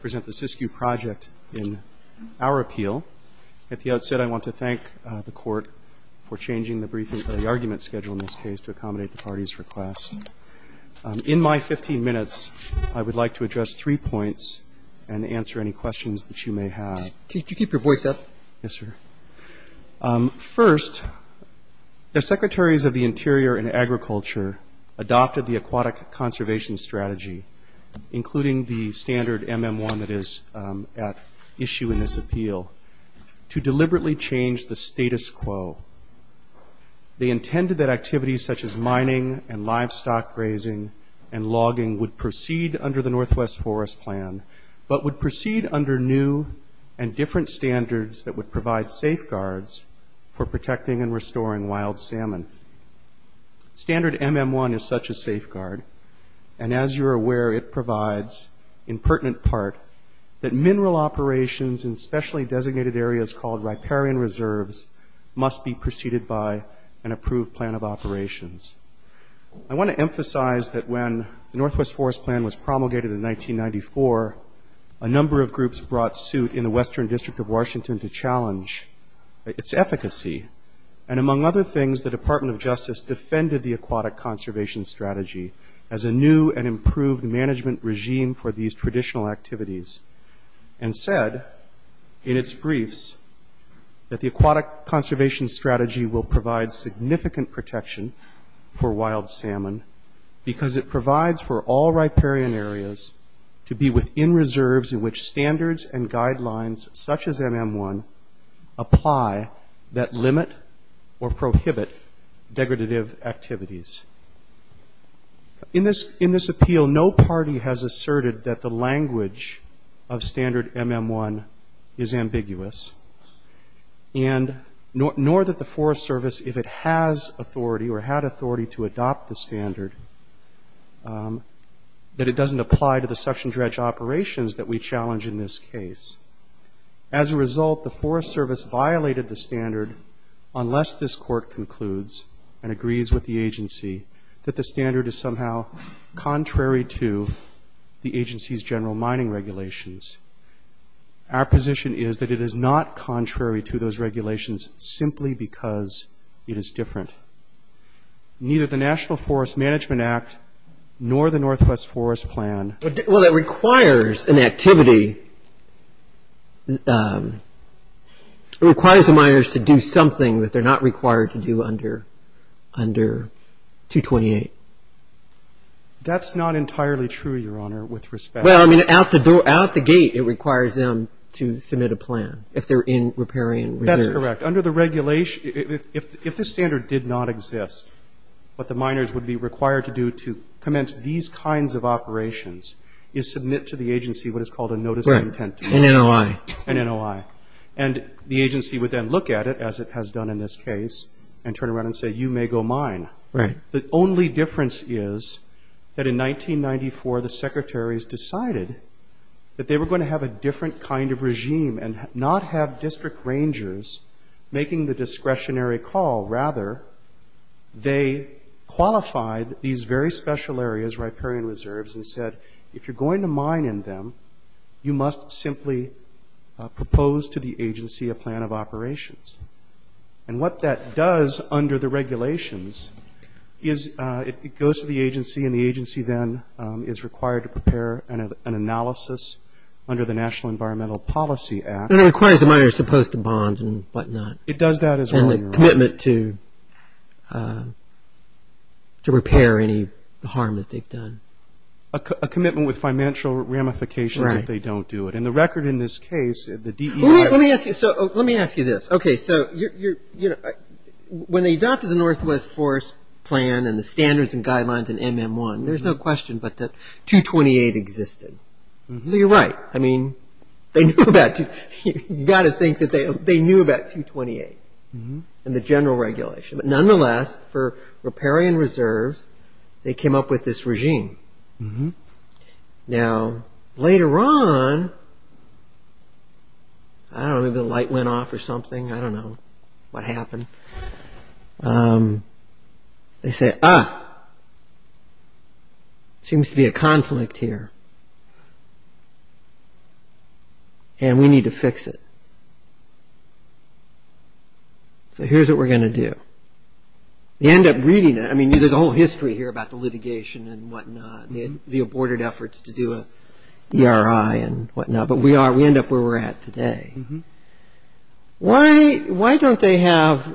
project in our appeal. At the outset I want to thank the court for changing the briefing for the argument schedule in this case to accommodate the party's request. In my 15 minutes I would like to address three points and answer any questions that you may have. Could you keep your voice up? Yes sir. First, the Secretaries of the Interior and Agriculture adopted the aquatic conservation strategy, including the standard MM1 that is at issue in this appeal, to deliberately change the status quo. They intended that activities such as mining and livestock grazing and logging would proceed under the Northwest Forest Plan, but would proceed under new and different standards that would provide safeguards for protecting and restoring wild salmon. Standard MM1 is such a safeguard and as you're aware it provides, in pertinent part, that mineral operations in specially designated areas called riparian reserves must be proceeded by an approved plan of operations. I want to emphasize that when the Northwest Forest Plan was promulgated in 1994, a number of groups brought suit in the Western District of Washington to challenge its efficacy, and among other things the Department of Justice defended the aquatic conservation strategy as a new and improved management regime for these traditional activities, and said in its briefs that the aquatic conservation strategy will provide significant protection for wild salmon because it provides for all riparian areas to be within reserves in which standards and activities. In this appeal, no party has asserted that the language of standard MM1 is ambiguous, nor that the Forest Service, if it has authority or had authority to adopt the standard, that it doesn't apply to the suction dredge operations that we challenge in this case. As a result, the Forest Service violated the standard unless this court concludes and agrees with the agency that the standard is somehow contrary to the agency's general mining regulations. Our position is that it is not contrary to those regulations simply because it is different. Neither the National Forest Management Act nor the Northwest Forest Plan. Well, it requires an activity. It requires the miners to do something that they're not required to do under 228. That's not entirely true, Your Honor, with respect. Well, I mean, out the door, out the gate, it requires them to submit a plan if they're in riparian reserves. That's correct. Under the regulation, if this standard did not exist, what the miners would be required to do to commence these kinds of operations is submit to the agency what is called a notice of intent to them. Right. An NOI. An NOI. And the agency would then look at it, as it has done in this case, and turn around and say, you may go mine. Right. The only difference is that in 1994, the secretaries decided that they were going to have a different kind of regime and not have district rangers making the discretionary call. Rather, they qualified these very special areas, riparian reserves, and said, if you're going to mine in them, you must simply propose to the agency a plan of operations. And what that does under the regulations is it goes to the agency, and the agency then is required to prepare an analysis under the National Environmental Policy Act. It requires the miners to post a bond and whatnot. It does that as well, you're right. And a commitment to repair any harm that they've done. A commitment with financial ramifications if they don't do it. And the record in this case, the DEI... Let me ask you this. Okay, so when they adopted the Northwest Forest Plan and the standards and guidelines in MM1, there's no question but that 228 existed. So you're right. I mean, they knew about 228 in the general regulation. But nonetheless, for riparian reserves, they came up with this regime. Now, later on, I don't know, maybe the light went off or something. I don't know what happened. They said, ah, seems to be a conflict here. And we need to fix it. So here's what we're going to do. They end up reading it. I mean, there's a whole history here about the litigation and whatnot. The aborted efforts to do an ERI and whatnot. But we are, we end up where we're at today. Why don't they have,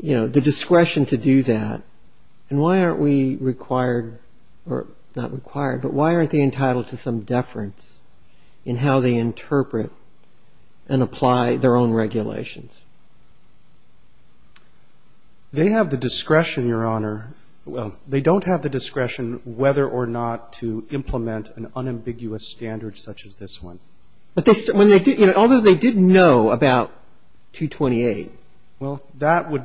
you know, the discretion to do that? And why aren't we required, or not required, but why aren't they entitled to some deference in how they interpret and apply their own regulations? They have the discretion, Your Honor. Well, they don't have the discretion whether or not to implement an unambiguous standard such as this one. But when they did, you know, although they did know about 228. Well, that would...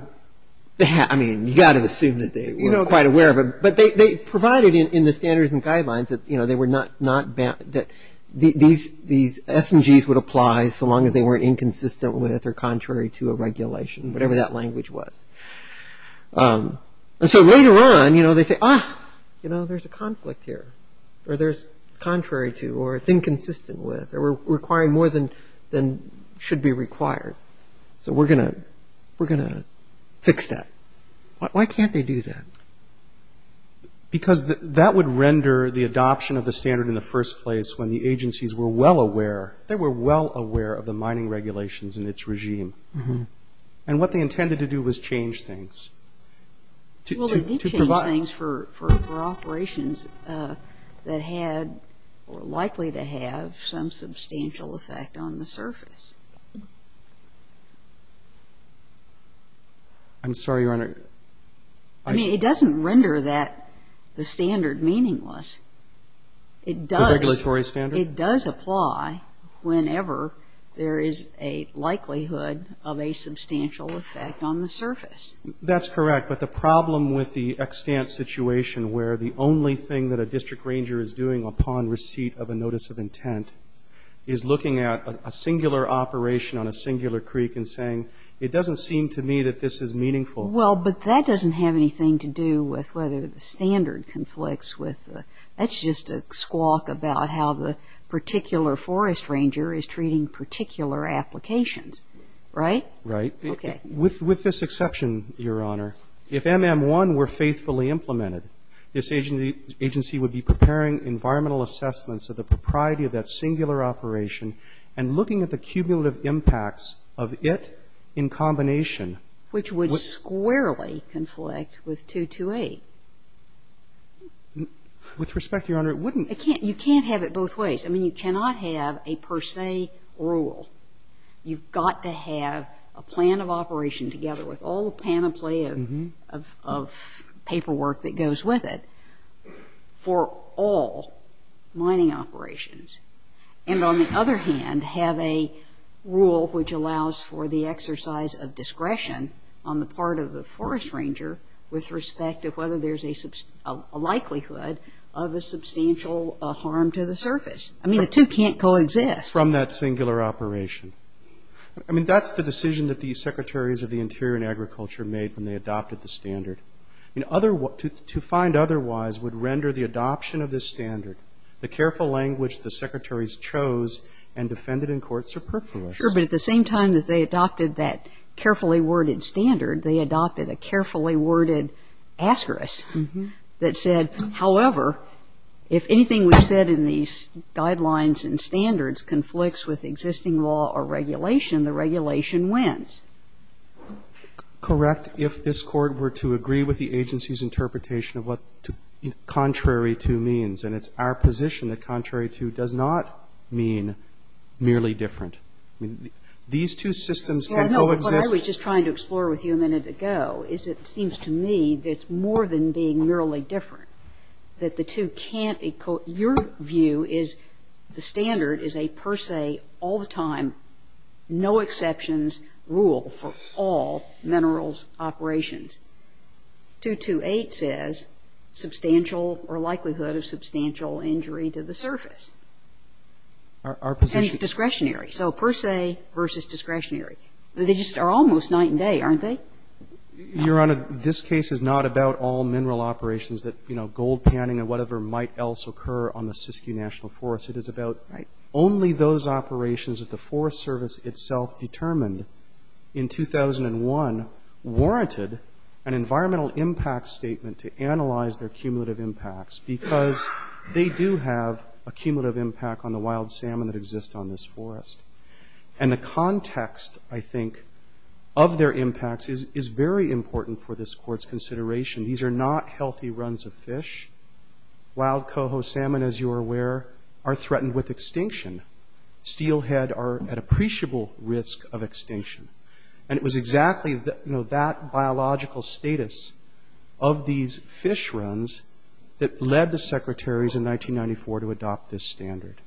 I mean, you got to assume that they were quite aware of it. But they provided in the standards and guidelines that, you know, they were not, that these SMGs would apply so long as they weren't inconsistent with or contrary to a regulation, whatever that language was. And so later on, you know, they say, ah, you know, there's a conflict here. Or there's contrary to, or it's inconsistent with, or requiring more than should be required. So we're going to fix that. Why can't they do that? Because that would render the adoption of the standard in the first place when the agencies were well aware, they were well aware of the mining regulations in its regime. And what they intended to do was change things. Well, they did change things for operations that had, or likely to have, some substantial effect on the surface. I'm sorry, Your Honor. I mean, it doesn't render that, the standard, meaningless. It does... The regulatory standard? It does apply whenever there is a likelihood of a substantial effect on the surface. That's correct. But the problem with the extant situation where the only thing that a district ranger is doing upon receipt of a notice of intent is looking at a singular operation on a singular creek and saying, it doesn't seem to me that this is meaningful. Well, but that doesn't have anything to do with whether the standard conflicts with, that's just a squawk about how the particular forest ranger is treating particular applications. Right? Right. Okay. With this exception, Your Honor, if MM1 were faithfully implemented, this agency would be preparing environmental assessments of the propriety of that and looking at the cumulative impacts of it in combination... Which would squarely conflict with 228. With respect, Your Honor, it wouldn't... It can't, you can't have it both ways. I mean, you cannot have a per se rule. You've got to have a plan of operation together with all the panoply of paperwork that goes with it for all mining operations. And on the other hand, have a rule which allows for the exercise of discretion on the part of the forest ranger with respect of whether there's a likelihood of a substantial harm to the surface. I mean, the two can't co-exist. From that singular operation. I mean, that's the decision that the secretaries of the Interior and Agriculture made when they adopted the standard. In other words, to find otherwise would render the adoption of this standard, the careful language the secretaries chose and defended in court superfluous. Sure, but at the same time that they adopted that carefully worded standard, they adopted a carefully worded asterisk that said, however, if anything we've said in these guidelines and standards conflicts with existing law or regulation, the regulation wins. Correct, if this court were to agree with the agency's interpretation of what contrary to means, and it's our position that contrary to does not mean merely different. I mean, these two systems can co-exist. What I was just trying to explore with you a minute ago is it seems to me that it's more than being merely different. That the two can't, your view is the standard is a per se, all the time, no exceptions rule for all minerals operations. 228 says substantial or likelihood of substantial injury to the surface. And it's discretionary, so per se versus discretionary. They just are almost night and day, aren't they? Your Honor, this case is not about all mineral operations that gold panning or whatever might else occur on the Siskiyou National Forest. It is about only those operations that the Forest Service itself determined in 2001 warranted an environmental impact statement to analyze their cumulative impacts because they do have a cumulative impact on the wild salmon that exists on this forest. And the context, I think, of their impacts is very important for this court's consideration. These are not healthy runs of fish. Wild coho salmon, as you are aware, are threatened with extinction. Steelhead are at appreciable risk of extinction. And it was exactly that biological status of these fish runs that led the secretaries in 1994 to adopt this standard.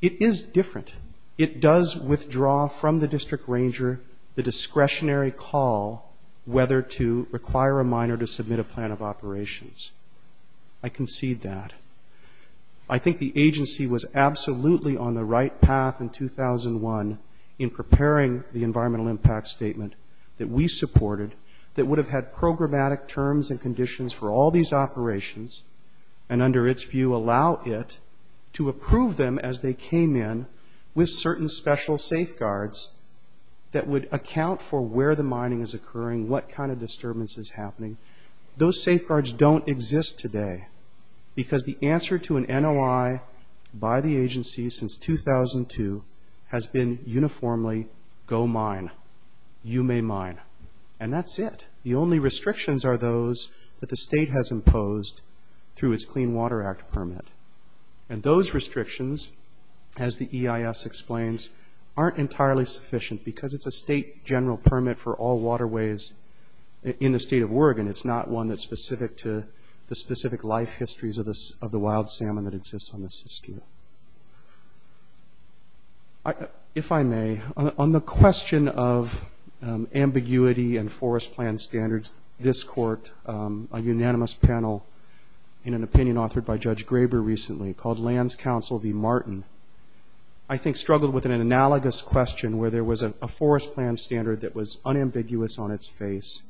It is different. It does withdraw from the district ranger the discretionary call whether to require a miner to submit a plan of operations. I concede that. I think the agency was in preparing the environmental impact statement that we supported that would have had programmatic terms and conditions for all these operations and, under its view, allow it to approve them as they came in with certain special safeguards that would account for where the mining is occurring, what kind of disturbance is happening. Those safeguards don't exist today because the answer to an NOI by the agency since 2002 has been uniformly, go mine. You may mine. And that's it. The only restrictions are those that the state has imposed through its Clean Water Act permit. And those restrictions, as the EIS explains, aren't entirely sufficient because it's a state general permit for all waterways in the state of Oregon. It's not one that's specific to the specific life salmon that exists on the system. If I may, on the question of ambiguity and forest plan standards, this court, a unanimous panel in an opinion authored by Judge Graber recently called Lands Council v. Martin, I think struggled with an analogous question where there was a forest plan standard that was unambiguous on its face.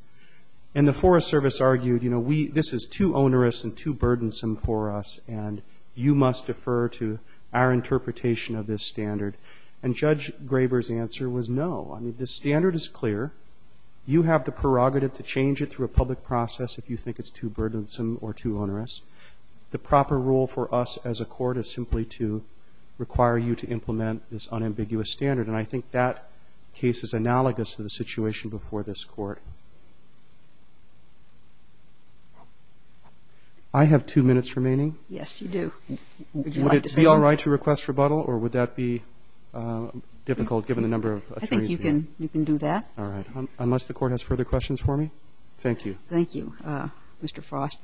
And the Forest Service argued, you know, this is too onerous and too burdensome for us, and you must defer to our interpretation of this standard. And Judge Graber's answer was, no. I mean, the standard is clear. You have the prerogative to change it through a public process if you think it's too burdensome or too onerous. The proper role for us as a court is simply to require you to implement this unambiguous standard. And I think that case is analogous to the situation before this court. I have two minutes remaining. Yes, you do. Would you like to say all right to request rebuttal, or would that be difficult given the number of attorneys here? I think you can do that. All right. Unless the court has further questions for me. Thank you. Thank you, Mr. Frost.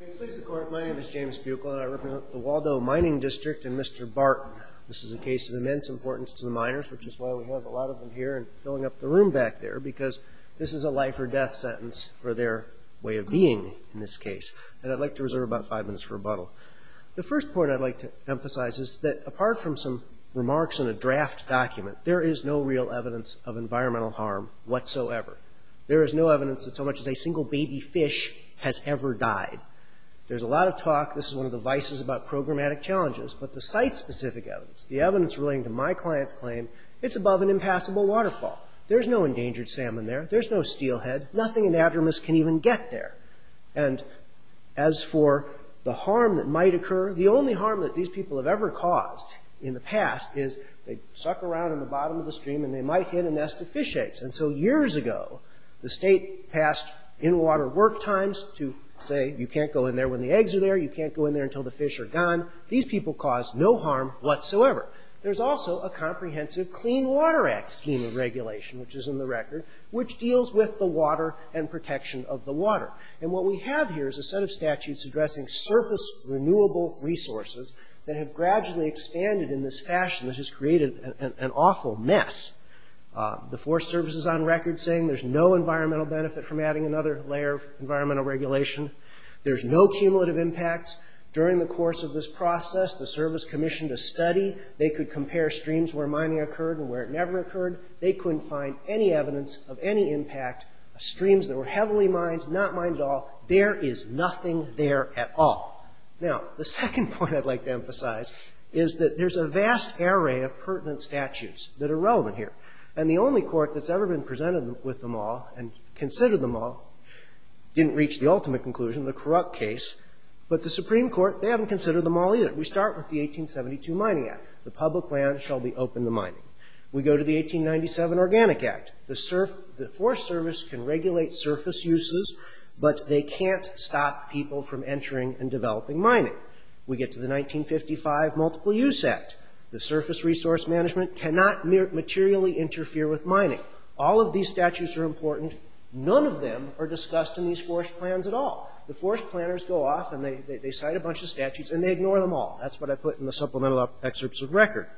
May it please the court, my name is James Buechel, and I represent the Waldo Mining District and Mr. Barton. This is a case of immense importance to the miners, which is why we have a lot of them here and filling up the room back there, because this is a life or death sentence for their way of being in this case. And I'd like to reserve about five minutes for rebuttal. The first point I'd like to emphasize is that, apart from some remarks in a draft document, there is no real evidence of environmental harm whatsoever. There is no evidence that so much as a single baby fish has ever died. There's a lot of talk, this is one of the vices about programmatic challenges, but the site-specific evidence, the evidence relating to my client's claim, it's above an impassable waterfall. There's no endangered salmon there. There's no steelhead. Nothing inadvertent can even get there. And as for the harm that might occur, the only harm that these people have ever caused in the past is they suck around in the bottom of the stream and they might hit a nest of fish eggs. And so years ago, the state passed in-water work times to say you can't go in there when the eggs are there, you can't go in there until the fish are gone. These people caused no harm whatsoever. There's also a comprehensive Clean Water Act scheme of regulation, which is in the record, which deals with the water and protection of the water. And what we have here is a set of statutes addressing surface renewable resources that have gradually expanded in this fashion that has created an awful mess. The Forest Service is on record saying there's no environmental benefit from adding another layer of environmental regulation. There's no cumulative impacts. During the course of this process, the Service commissioned a study. They could compare streams where mining occurred and where it never occurred. They couldn't find any evidence of any impact. Streams that were heavily mined, not mined at all, there is nothing there at all. Now, the second point I'd like to emphasize is that there's a vast array of pertinent statutes that are relevant here. And the only court that's ever been presented with them all and considered them all didn't reach the ultimate conclusion, the Krupp case. But the Supreme Court, they haven't considered them all either. We start with the 1872 Mining Act. The public land shall be open to mining. We go to the 1897 Organic Act. The Forest Service can regulate surface uses, but they can't stop people from entering and developing mining. We get to the 1955 Multiple Use Act. The surface resource management cannot materially interfere with mining. All of these statutes are important. None of them are discussed in these forest plans at all. The forest planners go off and they cite a bunch of statutes and they ignore them all. That's what I put in the supplemental excerpts of record.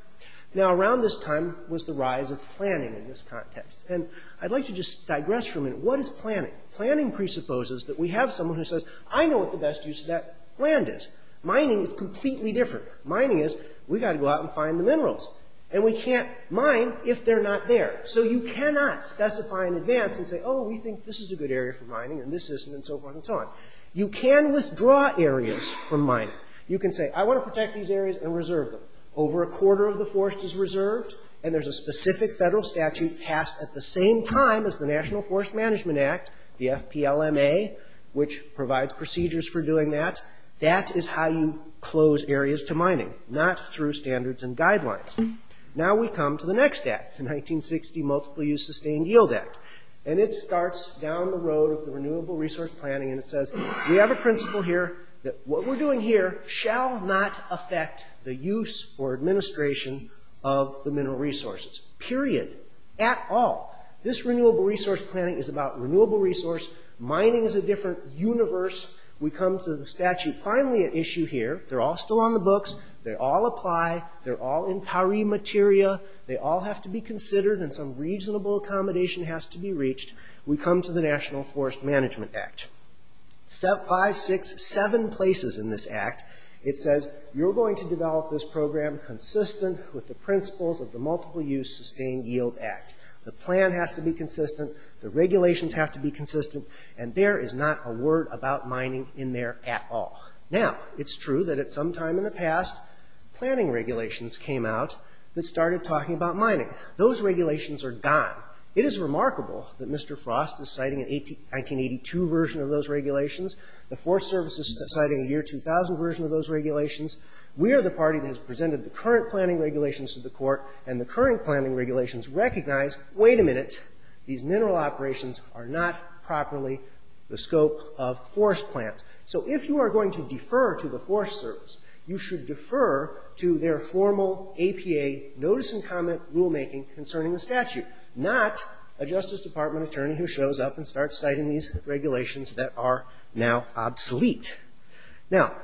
Now, around this time was the rise of planning in this context. And I'd like to just digress for a minute. What is planning? Planning presupposes that we have someone who says, I know what the best use of that land is. Mining is completely different. Mining is, we've got to go out and find the minerals. And we can't mine if they're not there. So you cannot specify in advance and say, oh, we think this is a good area for mining and this isn't and so forth and so on. You can withdraw areas from mining. You can say, I want to protect these areas and reserve them. Over a quarter of the forest is reserved and there's a specific federal statute passed at the same time as the National Forest Management Act, the FPLMA, which provides procedures for doing that. That is how you close areas to mining, not through standards and guidelines. Now we come to the next act, the 1960 Multiple-Use Sustained Yield Act. And it starts down the road of the renewable resource planning and it says, we have a principle here that what we're doing here shall not affect the use or administration of the mineral resources, period, at all. This renewable resource planning is about renewable resource. Mining is a different universe. We come to the statute finally at issue here. They're all still on the books. They all apply. They're all in PARI materia. They all have to be considered and some reasonable accommodation has to be reached. We come to the National Forest Management Act. Five, six, seven places in this act. It says, you're going to develop this program consistent with the principles of the Multiple-Use Sustained Yield Act. The plan has to be consistent. The regulations have to be consistent. And there is not a word about mining in there at all. Now, it's true that at some time in the past, planning regulations came out that started talking about mining. Those regulations are gone. It is remarkable that Mr. Frost is citing an 1982 version of those regulations. The Forest Service is citing a year 2000 version of those regulations. We are the party that has presented the current planning regulations to the court and the current planning regulations recognize, wait a minute, these mineral operations are not properly the scope of forest plans. So if you are going to defer to the Forest Service, you should defer to their formal APA notice and comment rulemaking concerning the statute, not a Justice Department attorney who shows up and starts citing these regulations that are now obsolete. Now,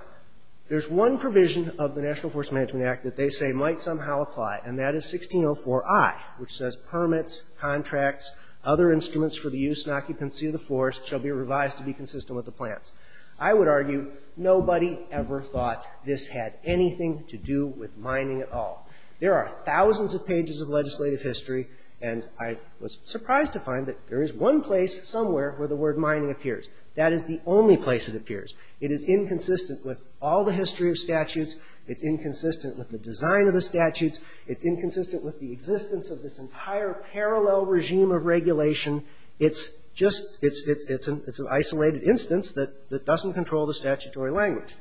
there's one provision of the National Forest Management Act that they say might somehow apply and that is 1604I, which says, permits, contracts, other instruments for the use and occupancy of the forest shall be revised to be consistent with the plans. I would argue nobody ever thought this had anything to do with mining at all. There are thousands of pages of legislative history, and I was surprised to find that there is one place somewhere where the word mining appears. That is the only place it appears. It is inconsistent with all the history of statutes. It's inconsistent with the design of the statutes. It's inconsistent with the existence of this entire parallel regime of regulation. It's just, it's an isolated instance that doesn't control the statutory language.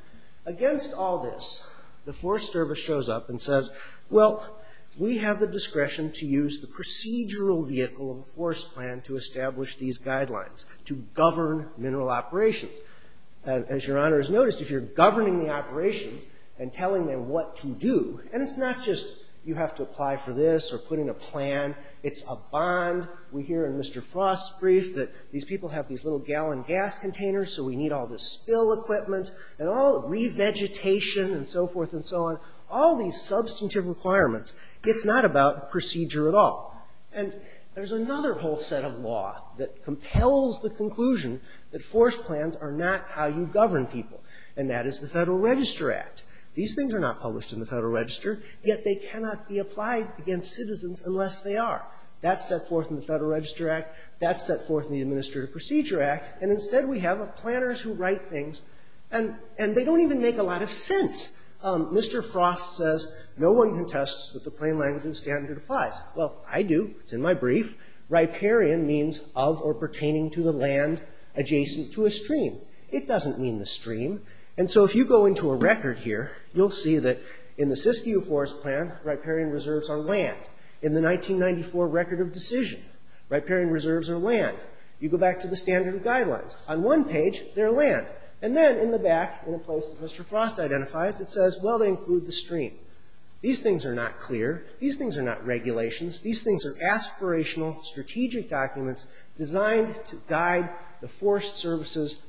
Against all this, the Forest Service shows up and says, well, we have the discretion to use the procedural vehicle of the forest plan to establish these guidelines to govern mineral operations. As Your Honor has noticed, if you're governing the operations and telling them what to do, and it's not just you have to apply for this or put in a plan, it's a bond. We hear in Mr. Frost's brief that these people have these little gallon gas containers, so we need all this spill equipment and all the revegetation and so forth and so on. All these substantive requirements, it's not about procedure at all. And there's another whole set of law that compels the conclusion that forest plans are not how you govern people, and that is the Federal Register Act. These things are not published in the Federal Register, yet they cannot be applied against citizens unless they are. That's set forth in the Federal Register Act, that's set forth in the Administrative Procedure Act, and instead we have planners who write things, and they don't even make a lot of sense. Mr. Frost says, no one contests that the plain language and standard applies. Well, I do. It's in my brief. Riparian means of or pertaining to the land adjacent to a stream. It doesn't mean the stream, and so if you go into a record here, you'll see that in the Siskiyou Forest Plan, riparian reserves are land. In the 1994 Record of Decision, riparian reserves are land. You go back to the standard of guidelines. On one page, they're land. And then in the back, in a place that Mr. Frost identifies, it says, well, they include the stream. These things are not clear. These things are not to guide the Forest Service's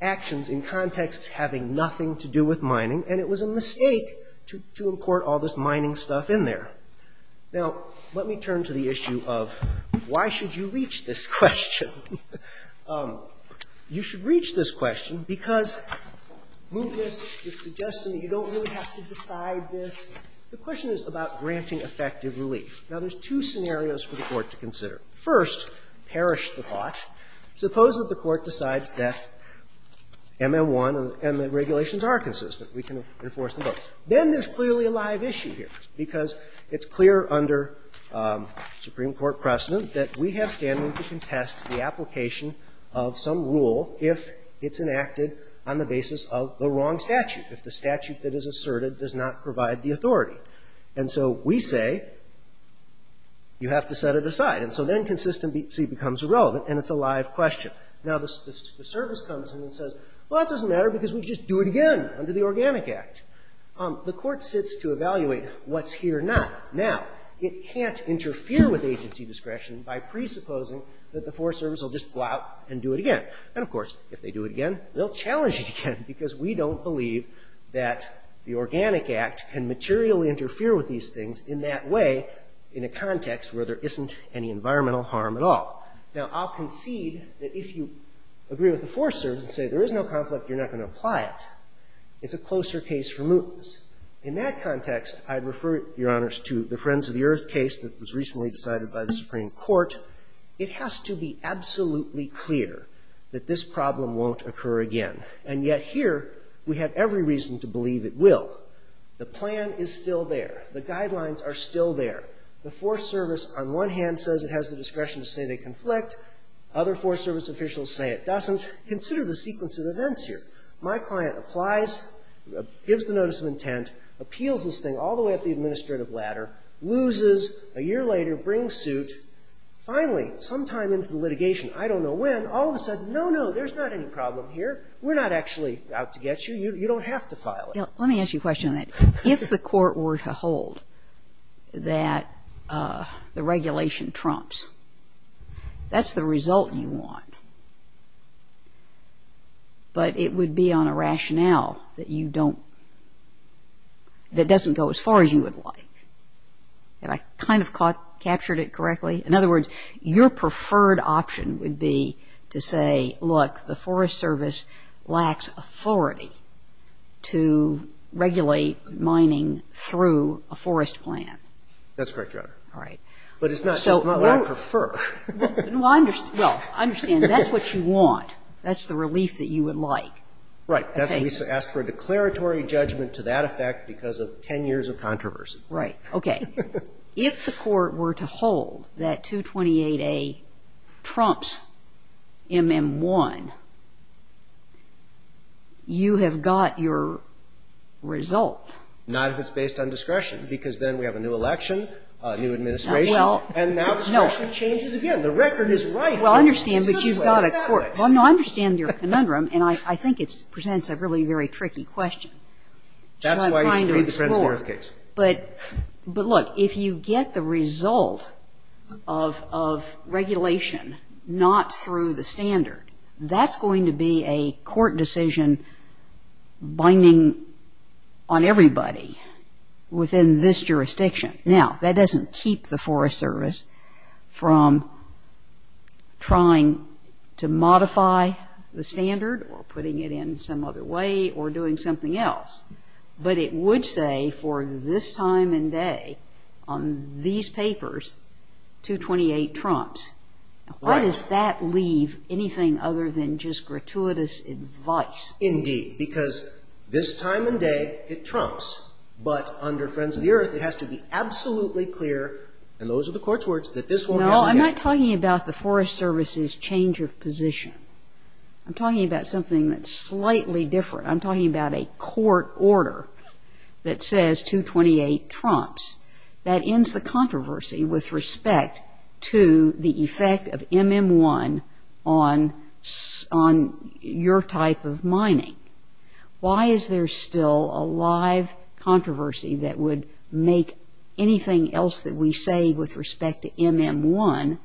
actions in context to having nothing to do with mining, and it was a mistake to import all this mining stuff in there. Now, let me turn to the issue of why should you reach this question. You should reach this question because Munch's is suggesting that you don't really have to decide this. The question is about granting effective relief. Now, there's two scenarios for the Court to consider. First, perish the thought. Suppose that the Court decides that M.M.1 and M.M. regulations are consistent. We can enforce them both. Then there's clearly a live issue here because it's clear under Supreme Court precedent that we have standing to contest the application of some rule if it's enacted on the basis of the wrong statute, if the you have to set it aside, and so then consistent becomes irrelevant, and it's a live question. Now, the Service comes in and says, well, it doesn't matter because we just do it again under the Organic Act. The Court sits to evaluate what's here not. Now, it can't interfere with agency discretion by presupposing that the Forest Service will just go out and do it again, and of course, if they do it again, they'll challenge it again because we don't believe that the Organic Act can materially interfere with these things in that way in a context where there isn't any environmental harm at all. Now, I'll concede that if you agree with the Forest Service and say there is no conflict, you're not going to apply it. It's a closer case for mootness. In that context, I'd refer, Your Honors, to the Friends of the Earth case that was recently decided by the Supreme Court. It has to be absolutely clear that this problem won't occur again, and yet here, we have every reason to believe it will. The plan is still there. The guidelines are still there. The Forest Service, on one hand, says it has the discretion to say they conflict. Other Forest Service officials say it doesn't. Consider the sequence of events here. My client applies, gives the notice of intent, appeals this thing all the way up the administrative ladder, loses, a year later brings suit. Finally, sometime into the litigation, I don't know when, all of a sudden, the problem here, we're not actually out to get you. You don't have to file it. Let me ask you a question on that. If the court were to hold that the regulation trumps, that's the result you want, but it would be on a rationale that you don't, that doesn't go as far as you would like. Have I kind of captured it correctly? In other words, your preferred option would be to say, look, the Forest Service lacks authority to regulate mining through a forest plan. That's correct, Your Honor. All right. But it's not what I prefer. Well, I understand. That's what you want. That's the relief that you would like. Right. We ask for a declaratory judgment to that effect because of 10 years of controversy. Right. Okay. If the court were to hold that 228A trumps MM1, you have got your result. Not if it's based on discretion, because then we have a new election, a new administration, and now discretion changes again. The record is right. Well, I understand, but you've got a court. I understand your conundrum, and I think it presents a really, very tricky question. That's why you've made the Frenzner case. But look, if you get the result of regulation not through the standard, that's going to be a court decision binding on everybody within this jurisdiction. Now, that doesn't keep the Forest Service from trying to modify the standard or this time and day on these papers, 228 trumps. Right. Why does that leave anything other than just gratuitous advice? Indeed, because this time and day, it trumps. But under Frenzner, it has to be absolutely clear, and those are the court's words, that this won't ever happen. No, I'm not talking about the Forest Service's change of position. I'm talking about something that's slightly different. I'm talking about a court order that says 228 trumps. That ends the controversy with respect to the effect of MM1 on your type of mining. Why is there still a live controversy that would make anything else that we say with respect to MM1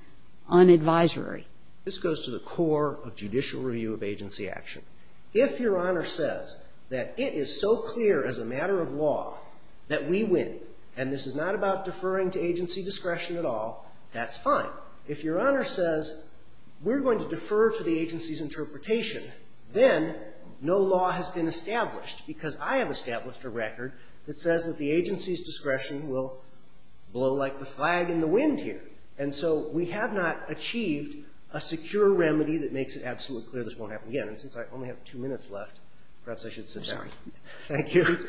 unadvisory? This goes to the core of judicial review of agency action. If your Honor says that it is so clear as a matter of law that we win, and this is not about deferring to agency discretion at all, that's fine. If your Honor says we're going to defer to the agency's interpretation, then no law has been established because I have established a record that says that the agency's discretion will blow like the flag in the wind here. And so we have not achieved a secure remedy that makes it absolutely clear this won't happen again. And since I only have two minutes left, perhaps I should sit down. Thank you.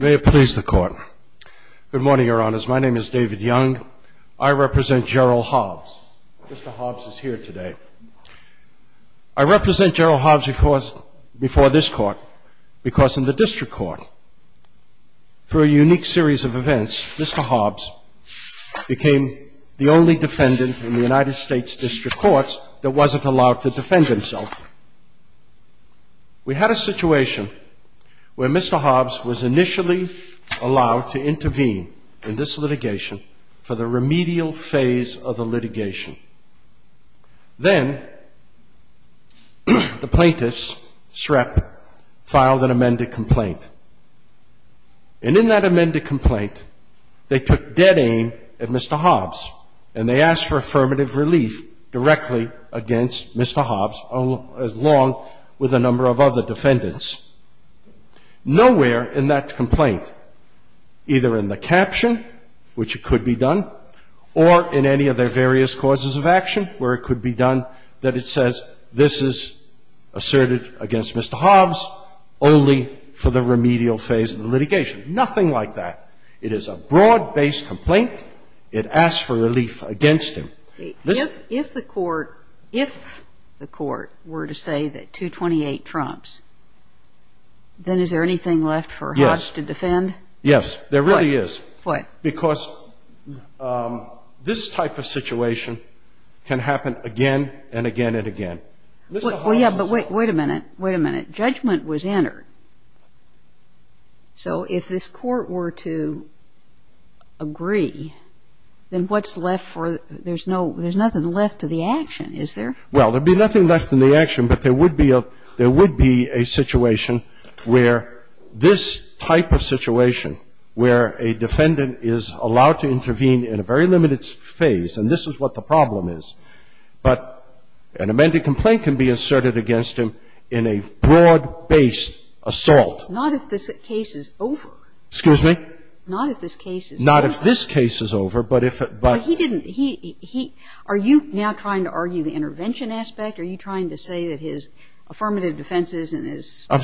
May it please the Court. Good morning, Your Honors. My name is David Young. I represent Gerald Hobbs. Mr. Hobbs is here today. I represent Gerald Hobbs before this Court because in the District Court, for a unique series of events, Mr. Hobbs became the only defendant in the United States District Courts that wasn't allowed to defend himself. We had a situation where Mr. Hobbs was in the remedial phase of the litigation. Then the plaintiffs, SREP, filed an amended complaint. And in that amended complaint, they took dead aim at Mr. Hobbs, and they asked for affirmative relief directly against Mr. Hobbs, as long with a number of other defendants. Nowhere in that complaint, either in the or in any of their various causes of action where it could be done that it says this is asserted against Mr. Hobbs only for the remedial phase of the litigation. Nothing like that. It is a broad-based complaint. It asks for relief against him. If the Court were to say that 228 trumps, then is there anything left for Hobbs to defend? Yes, there really is. Why? Because this type of situation can happen again and again and again. Well, yeah, but wait a minute. Wait a minute. Judgment was entered. So if this Court were to agree, then what's left for, there's no, there's nothing left to the action, is there? Well, there'd be nothing left in the action, but there would be a, there would be a situation where this type of situation, where a defendant is allowed to intervene in a very limited phase, and this is what the problem is, but an amended complaint can be asserted against him in a broad-based assault. Not if this case is over. Excuse me? Not if this case is over. Not if this case is over, but if it, but he didn't, he, he, are you now trying to argue the intervention aspect? Are you trying to say that his affirmative defenses and his claims of his? I'm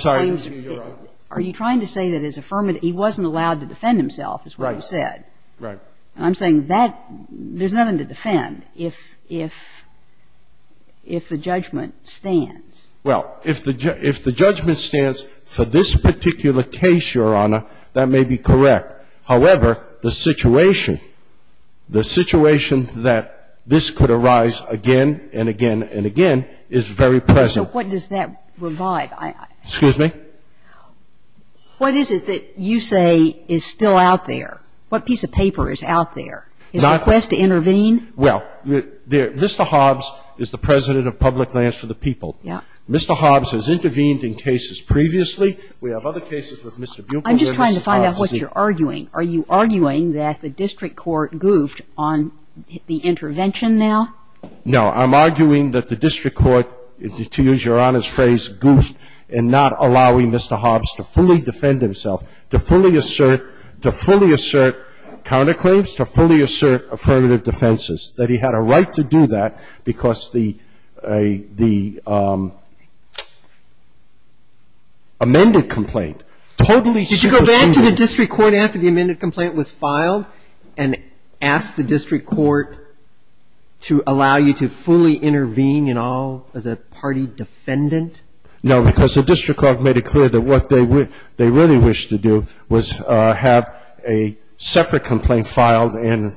sorry, Your Honor. Are you trying to say that his affirmative, he wasn't allowed to defend himself, is what you said? Right, right. And I'm saying that, there's nothing to defend if, if, if the judgment stands. Well, if the, if the judgment stands for this particular case, Your Honor, that may be correct. However, the situation, the situation that this could arise again and again and again is very present. So what does that provide? Excuse me? What is it that you say is still out there? What piece of paper is out there? Is it a quest to intervene? Well, Mr. Hobbs is the President of Public Lands for the People. Yeah. Mr. Hobbs has intervened in cases previously. We have other cases with Mr. Bupre. I'm just trying to find out what you're arguing. Are you arguing that the district court goofed on the intervention now? No. I'm arguing that the district court, to use Your Honor's phrase, goofed in not allowing Mr. Hobbs to fully defend himself, to fully assert, to fully assert counterclaims, to fully assert affirmative defenses, that he had a right to do that because the, the amended complaint totally supersedes the district court's right to do that. Did you go back to the district court after the amended complaint was filed and ask the district court to allow you to fully intervene and all as a party defendant? No, because the district court made it clear that what they, they really wished to do was have a separate complaint filed and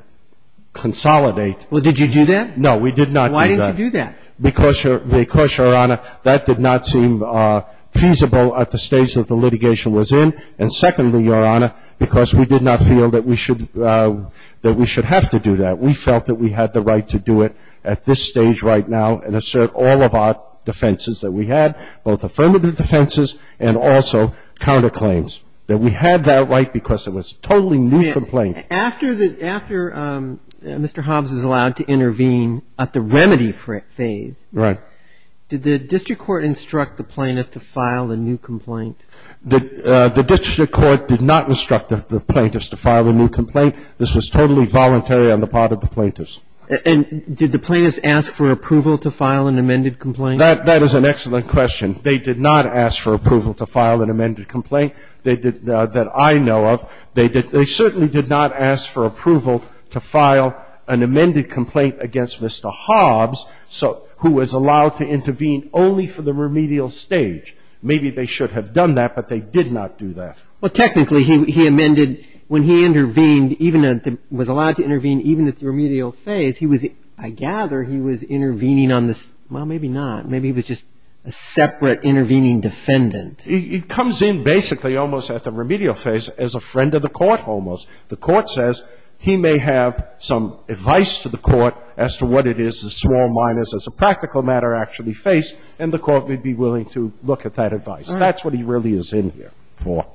consolidate. Well, did you do that? No, we did not do that. Why didn't you do that? Because Your, because Your Honor, that did not seem feasible at the stage that the litigation was in, and secondly, Your Honor, because we did not feel that we should, that we should have to do that. We felt that we had the right to do it at this stage right now and assert all of our defenses that we had, both affirmative defenses and also counterclaims, that we had that right because it was a totally new complaint. After the, after Mr. Hobbs is allowed to intervene at the remedy phase. Right. Did the district court instruct the plaintiff to file a new complaint? The, the district court did not instruct the plaintiff to file a new complaint. This was totally voluntary on the part of the plaintiffs. And did the plaintiffs ask for approval to file an amended complaint? That, that is an excellent question. They did not ask for approval to file an amended complaint. They did, that I know of, they did, they certainly did not ask for approval to file an amended complaint against Mr. Hobbs. So, who was allowed to intervene only for the remedial stage. Maybe they should have done that, but they did not do that. Well, technically he, he amended when he intervened even at the, was allowed to intervene even at the remedial phase. He was, I gather he was intervening on this, well, maybe not. Maybe he was just a separate intervening defendant. He, he comes in basically almost at the remedial phase as a friend of the court almost. The court says he may have some advice to the court as to what it is the small minors as a practical matter actually face, and the court may be willing to look at that advice. That's what he really is in here for.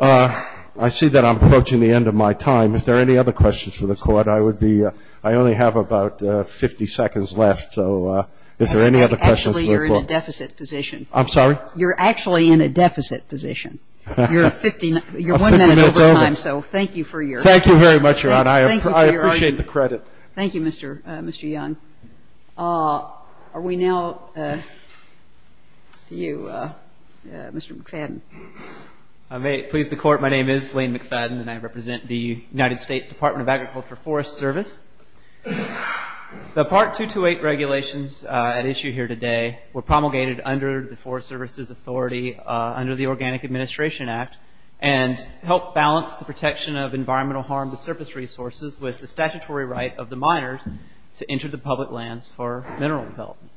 I see that I'm approaching the end of my time. If there are any other questions for the Court, I would be, I only have about 50 seconds left, so if there are any other questions for the Court. Actually, you're in a deficit position. I'm sorry? You're actually in a deficit position. You're 50, you're one minute over time, so thank you for your argument. Thank you very much, Your Honor, I appreciate the credit. Thank you, Mr. Young. Are we now, you, Mr. McFadden? I may please the Court. My name is Lane McFadden, and I represent the United States Department of Agriculture Forest Service. The Part 228 regulations at issue here today were promulgated under the Forest Services Authority under the Organic Administration Act, and help balance the protection of environmental harm to surface resources with the statutory right of the miners to enter the public lands for mineral development.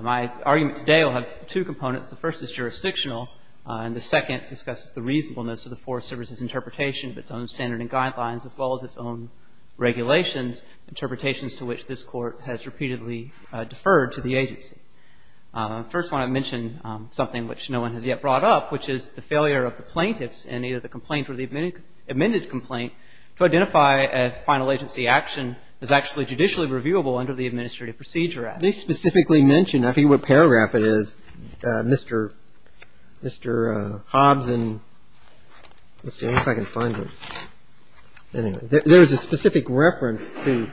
My argument today will have two components. The first is jurisdictional, and the second discusses the reasonableness of the Forest Services interpretation of its own standard and guidelines, as well as its own regulations, interpretations to which this Court has repeatedly deferred to the agency. First, I want to mention something which no one has yet brought up, which is the failure of the plaintiffs in either the complaint or the amended complaint to actually judicially reviewable under the Administrative Procedure Act. They specifically mention, I forget what paragraph it is, Mr. Hobbs and, let's see if I can find it. Anyway, there's a specific reference to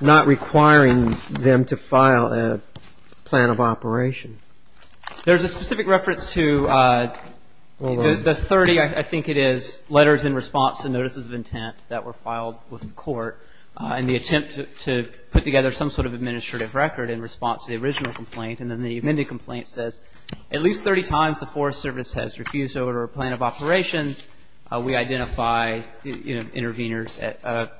not requiring them to file a plan of operation. There's a specific reference to the 30, I think it is, letters in response to the original complaint with the Court in the attempt to put together some sort of administrative record in response to the original complaint. And then the amended complaint says, at least 30 times the Forest Service has refused to order a plan of operations. We identify, you know, interveners at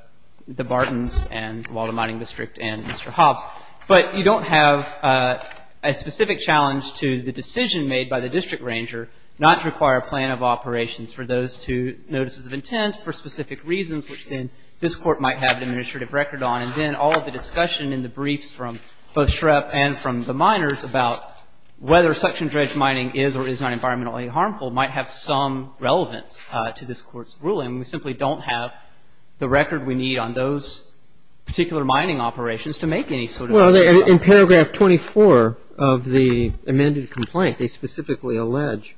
the Bartons and the Walden Mining District and Mr. Hobbs. But you don't have a specific challenge to the decision made by the district ranger not to require a plan of operations for those two notices of intent for specific reasons, which then this Court might have an administrative record on. And then all of the discussion in the briefs from both Shrepp and from the miners about whether suction dredge mining is or is not environmentally harmful might have some relevance to this Court's ruling. We simply don't have the record we need on those particular mining operations to make any sort of a ruling on it. Well, in paragraph 24 of the amended complaint, they specifically allege,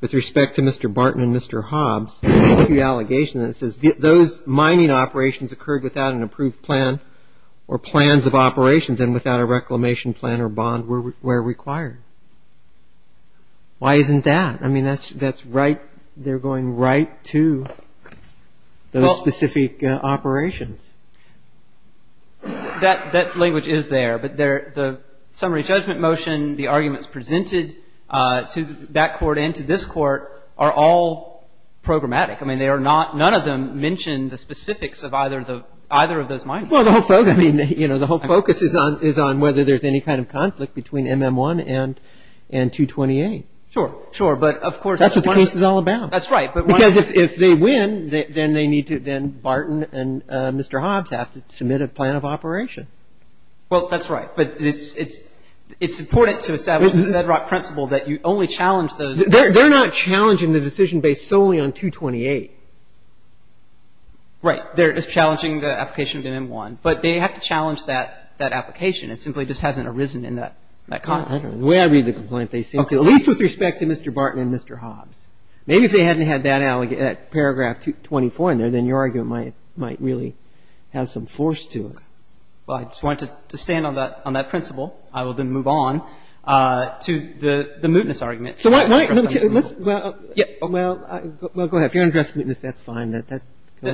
with respect to Mr. Barton and Mr. Hobbs, the allegation that says those mining operations occurred without an approved plan or plans of operations and without a reclamation plan or bond where required. Why isn't that? I mean, that's right. They're going right to those specific operations. That language is there. But the summary judgment motion, the arguments presented to that Court and to this Court are all programmatic. I mean, they are not, none of them mention the specifics of either of those mining operations. Well, the whole focus is on whether there's any kind of conflict between MM1 and 228. Sure, sure. But of course, that's what the case is all about. That's right. Because if they win, then Barton and Mr. Hobbs have to submit a plan of operation. Well, that's right. But it's important to establish the bedrock principle that you only challenge those. They're not challenging the decision based solely on 228. Right. They're just challenging the application of MM1. But they have to challenge that application. It simply just hasn't arisen in that context. I don't know the way I read the complaint. They seem to, at least with respect to Mr. Barton and Mr. Hobbs, maybe if they hadn't had that paragraph 24 in there, then your argument might really have some force to it. Well, I just wanted to stand on that principle. I will then move on to the mootness argument. So let me tell you, well, go ahead. If you're going to address the mootness, that's fine.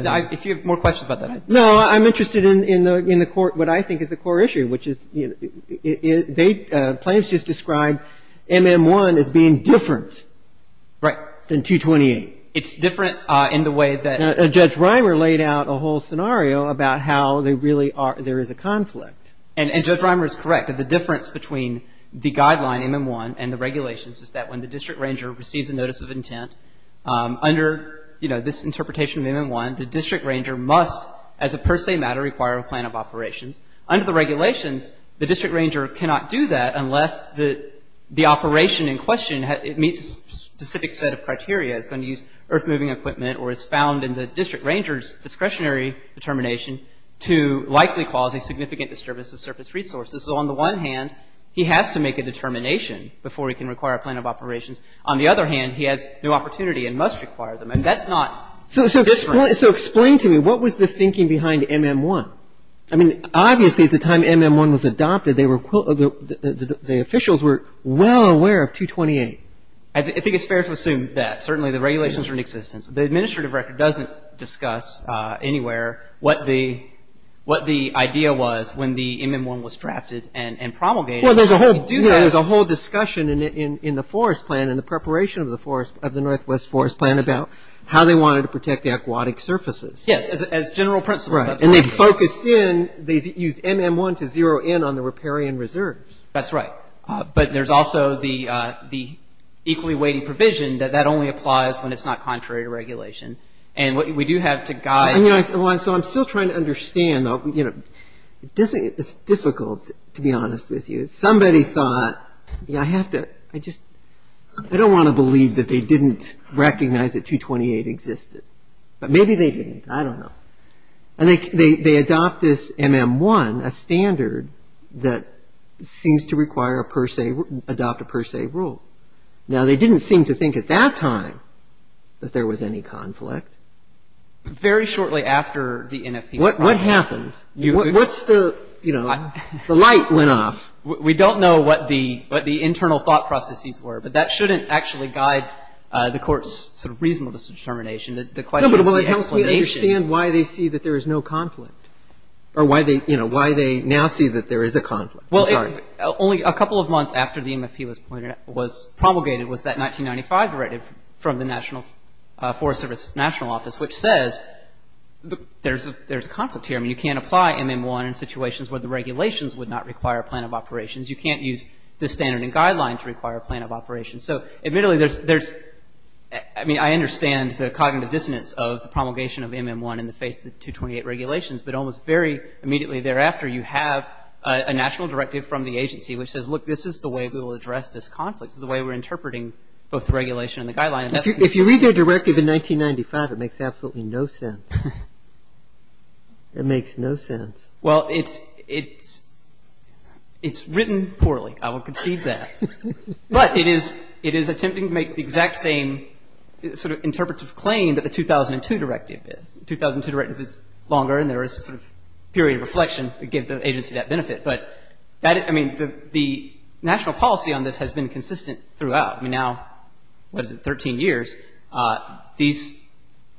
If you have more questions about that, go ahead. No, I'm interested in the court, what I think is the core issue, which is plaintiffs just described MM1 as being different than 228. It's different in the way that- Judge Reimer laid out a whole scenario about how there is a conflict. And Judge Reimer is correct. The difference between the guideline, MM1, and the regulations is that when the district ranger receives a notice of intent, under this interpretation of MM1, the district ranger must as a per se matter require a plan of operations. Under the regulations, the district ranger cannot do that unless the operation in question meets a specific set of criteria. It's going to use earth-moving equipment or is found in the district ranger's discretionary determination to likely cause a significant disturbance of surface resources. So on the one hand, he has to make a determination before he can require a plan of operations. On the other hand, he has no opportunity and must require them. And that's not different. So explain to me, what was the thinking behind MM1? I mean, obviously at the time MM1 was adopted, they were- the officials were well aware of 228. I think it's fair to assume that. Certainly the regulations were in existence. The administrative record doesn't discuss anywhere what the idea was when the MM1 was drafted and promulgated. Well, there's a whole discussion in the forest plan and the preparation of the Northwest Forest Plan about how they wanted to protect the aquatic surfaces. Yes, as general principles. Right. And they focused in. They used MM1 to zero in on the riparian reserves. That's right. But there's also the equally weighty provision that that only applies when it's not contrary to regulation. And what we do have to guide- So I'm still trying to understand, you know, it's difficult to be honest with you. Somebody thought, you know, I have to- I just- I don't want to believe that they didn't recognize that 228 existed. But maybe they didn't. I don't know. And they adopt this MM1, a standard that seems to require a per se- adopt a per se rule. Now they didn't seem to think at that time that there was any conflict. Very shortly after the NFP- What happened? What's the, you know, the light went off. We don't know what the internal thought processes were. But that shouldn't actually guide the Court's sort of reasonableness of determination. The question is the explanation. No, but it helps me understand why they see that there is no conflict or why they, you know, why they now see that there is a conflict. I'm sorry. Well, only a couple of months after the NFP was promulgated was that 1995 directive from the National- Forest Service National Office, which says there's a conflict here. I mean, you can't apply MM1 in situations where the regulations would not require a plan of operations. You can't use this standard and guideline to require a plan of operations. So admittedly, there's- I mean, I understand the cognitive dissonance of the promulgation of MM1 in the face of the 228 regulations, but almost very immediately thereafter you have a national directive from the agency which says, look, this is the way we will address this conflict. This is the way we're interpreting both the regulation and the guideline. If you read their directive in 1995, it makes absolutely no sense. It makes no sense. Well, it's written poorly. I will concede that. But it is attempting to make the exact same sort of interpretive claim that the 2002 directive is. The 2002 directive is longer and there is a sort of period of reflection to give the agency that benefit. But that- I mean, the national policy on this has been consistent throughout. I mean, now, what is it, 13 years. These-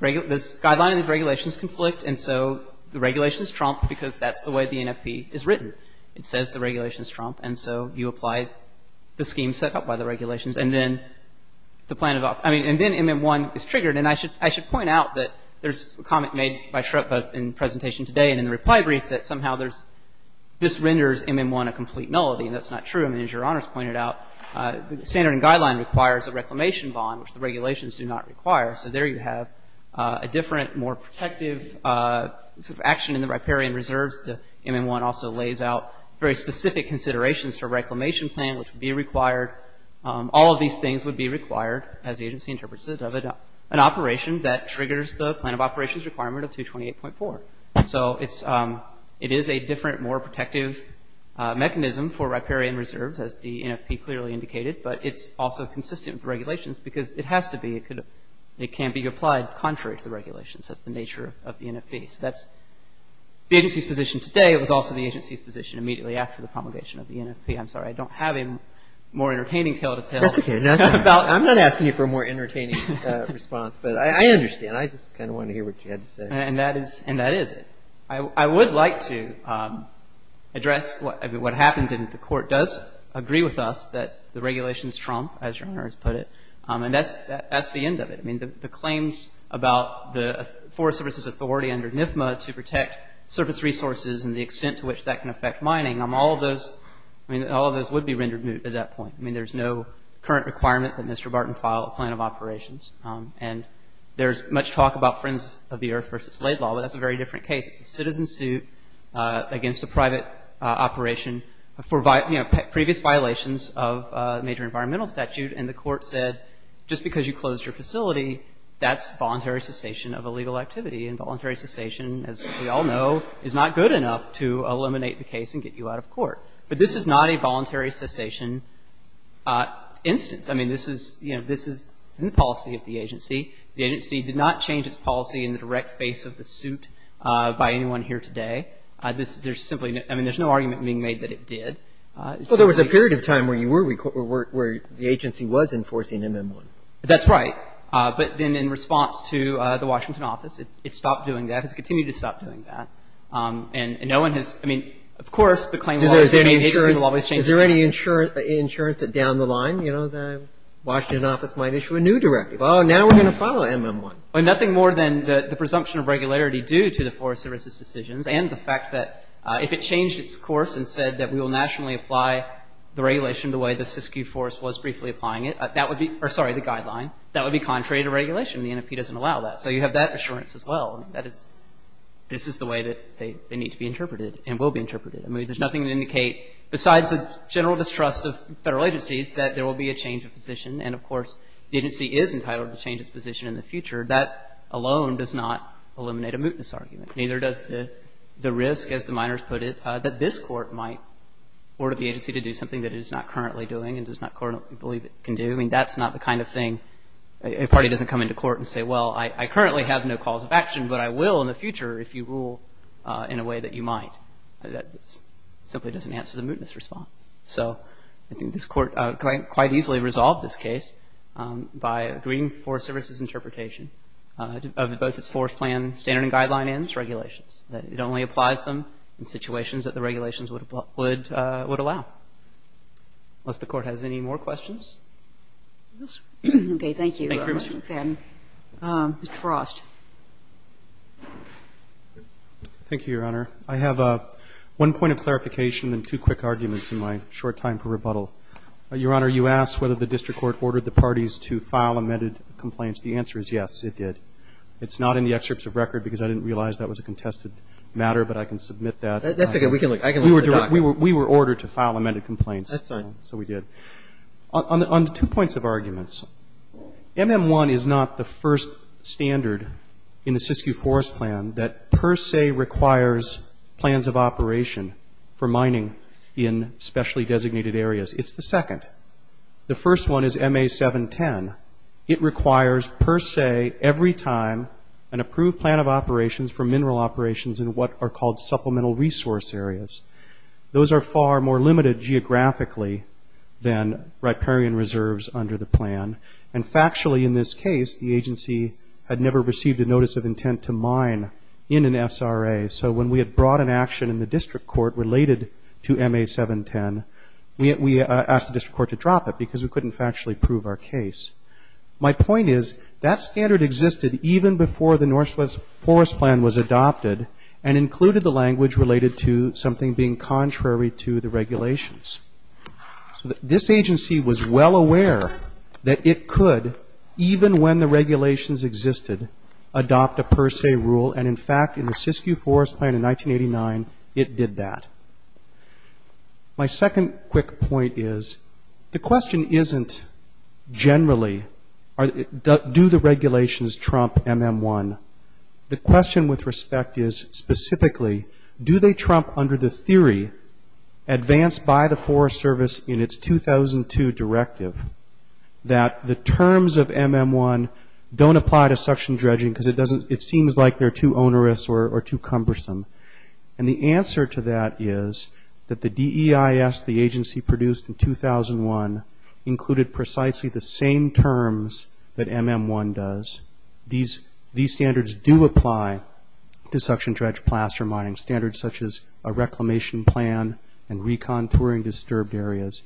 this guideline and these regulations conflict, and so the regulations trump because that's the way the NFP is written. It says the regulations trump, and so you apply the scheme set up by the regulations, and then the plan of- I mean, and then MM1 is triggered. And I should point out that there's a comment made by Shrupp both in the presentation today and in the reply brief that somehow there's- this renders MM1 a complete nullity, and that's not true. I mean, as Your Honor has pointed out, the standard and guideline requires a reclamation bond, which the regulations do not require. So there you have a different, more protective sort of action in the riparian reserves. The MM1 also lays out very specific considerations for a reclamation plan, which would be required. All of these things would be required, as the agency interprets it, of an operation that triggers the plan of operations requirement of 228.4. So it is a different, more protective mechanism for riparian reserves, as the NFP clearly indicated, but it's also consistent with the regulations because it has to be. It can't be applied contrary to the regulations. That's the nature of the NFP, so that's the agency's position today. It was also the agency's position immediately after the promulgation of the NFP. I'm sorry. I don't have a more entertaining tale to tell. That's okay. I'm not asking you for a more entertaining response, but I understand. I just kind of wanted to hear what you had to say. And that is it. I would like to address what happens if the Court does agree with us that the regulations trump, as Your Honor has put it, and that's the end of it. I mean, the claims about the Forest Service's authority under NFMA to protect surface resources and the extent to which that can affect mining, all of those would be rendered moot at that point. I mean, there's no current requirement that Mr. Barton file a plan of operations. And there's much talk about Friends of the Earth v. Laidlaw, but that's a very different case. It's a citizen suit against a private operation for previous violations of a major environmental statute, and the Court said just because you closed your facility, that's voluntary cessation of illegal activity. And voluntary cessation, as we all know, is not good enough to eliminate the case and get you out of court. But this is not a voluntary cessation instance. I mean, this is, you know, this is in the policy of the agency. The agency did not change its policy in the direct face of the suit by anyone here today. This is simply, I mean, there's no argument being made that it did. So there was a period of time where you were, where the agency was enforcing MM1. That's right. But then in response to the Washington office, it stopped doing that, has continued to stop doing that. And no one has, I mean, of course, the claim will always remain the agency will always change its policy. Is there any insurance that down the line, you know, the Washington office might issue a new directive? Oh, now we're going to follow MM1. Well, nothing more than the presumption of regularity due to the Forest Service's decisions and the fact that if it changed its course and said that we will nationally apply the regulation the way the Siskiyou Forest was briefly applying it, that would be, or sorry, the guideline, that would be contrary to regulation. The NFP doesn't allow that. So you have that assurance as well. That is, this is the way that they need to be interpreted and will be interpreted. I mean, there's nothing to indicate besides the general distrust of federal agencies that there will be a change of position. And of course, the agency is entitled to change its position in the future. That alone does not eliminate a mootness argument. Neither does the risk, as the minors put it, that this Court might order the agency to do something that it is not currently doing and does not currently believe it can do. I mean, that's not the kind of thing a party doesn't come into court and say, well, I currently have no calls of action, but I will in the future if you rule in a way that you might. That simply doesn't answer the mootness response. So I think this Court quite easily resolved this case by agreeing Forest Service's interpretation of both its Forest Plan standard and guideline and its regulations, that it only applies them in situations that the regulations would allow. Unless the Court has any more questions? MS. MR. FADDEN Thank you very much. MS. GOTTLIEB Mr. Frost. MR. FROST One point of clarification and two quick arguments in my short time for rebuttal. Your Honor, you asked whether the district court ordered the parties to file amended complaints. The answer is yes, it did. It's not in the excerpts of record because I didn't realize that was a contested matter, but I can submit that. MR. GOTTLIEB That's okay. I can look at the document. MR. FROST We were ordered to file amended complaints. MR. GOTTLIEB That's fine. MR. FROST So we did. On two points of arguments, MM1 is not the first standard in the Siskiyou Forest Plan that per se requires plans of operation for mining in specially designated areas. It's the second. The first one is MA710. It requires per se every time an approved plan of operations for mineral operations in what are called supplemental resource areas. Those are far more limited geographically than riparian reserves under the plan. And factually in this case, the agency had never received a notice of intent to mine in an SRA. So when we had brought an action in the district court related to MA710, we asked the district court to drop it because we couldn't factually prove our case. My point is that standard existed even before the Northwest Forest Plan was adopted and included the language related to something being contrary to the regulations. So this agency was well aware that it could, even when the regulations existed, adopt a per se rule. And in fact, in the Siskiyou Forest Plan in 1989, it did that. My second quick point is the question isn't generally do the regulations trump MM1. The question with respect is specifically do they trump under the theory advanced by the Forest Service in its 2002 directive that the terms of MM1 don't apply to suction dredging because it seems like they're too onerous or too cumbersome. And the answer to that is that the DEIS, the agency produced in 2001, included precisely the same terms that MM1 does. These standards do apply to suction dredge plaster mining, standards such as a reclamation plan and recontouring disturbed areas.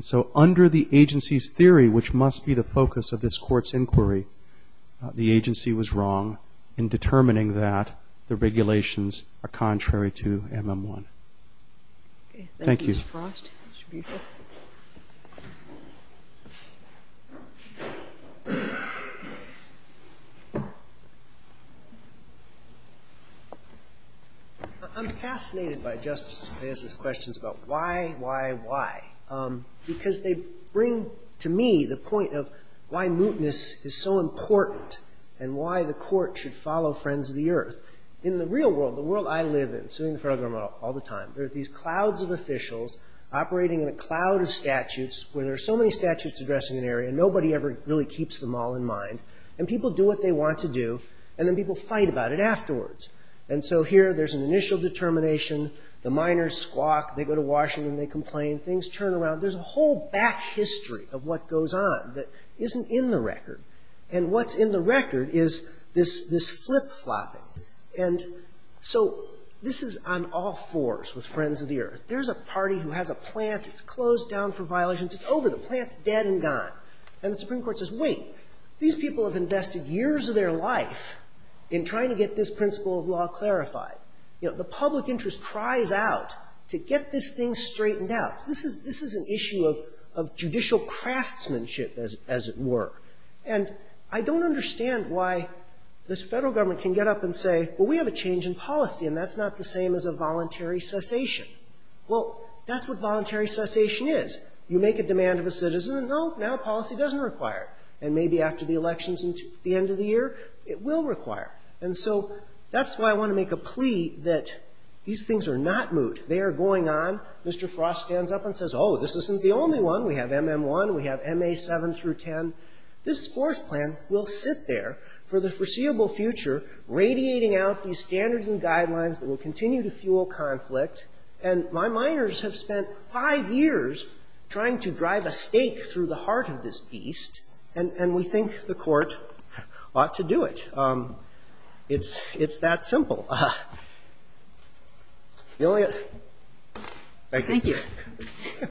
So under the agency's theory, which must be the focus of this court's inquiry, the agency was wrong in determining that the regulations are contrary to MM1. Thank you. Mr. Frost? Mr. Buford? I'm fascinated by Justice Reyes's questions about why, why, why, because they bring to me the point of why mootness is so important and why the court should follow Friends of the Earth. In the real world, the world I live in, suing the federal government all the time, there a cloud of statutes where there are so many statutes addressing an area, nobody ever really keeps them all in mind, and people do what they want to do, and then people fight about it afterwards. And so here, there's an initial determination, the miners squawk, they go to Washington, they complain, things turn around. There's a whole back history of what goes on that isn't in the record. And what's in the record is this flip-flopping. And so this is on all fours with Friends of the Earth. There's a party who has a plant, it's closed down for violations, it's over, the plant's dead and gone. And the Supreme Court says, wait, these people have invested years of their life in trying to get this principle of law clarified. You know, the public interest cries out to get this thing straightened out. This is an issue of judicial craftsmanship, as it were. And I don't understand why this federal government can get up and say, well, we have a change in policy, and that's not the same as a voluntary cessation. Well, that's what voluntary cessation is. You make a demand of a citizen, and now policy doesn't require it. And maybe after the elections at the end of the year, it will require it. And so that's why I want to make a plea that these things are not moot. They are going on, Mr. Frost stands up and says, oh, this isn't the only one. We have MM1, we have MA7 through 10. This fourth plan will sit there for the foreseeable future, radiating out these standards and guidelines that will continue to fuel conflict. And my minors have spent five years trying to drive a stake through the heart of this beast. And we think the court ought to do it. It's that simple. Thank you.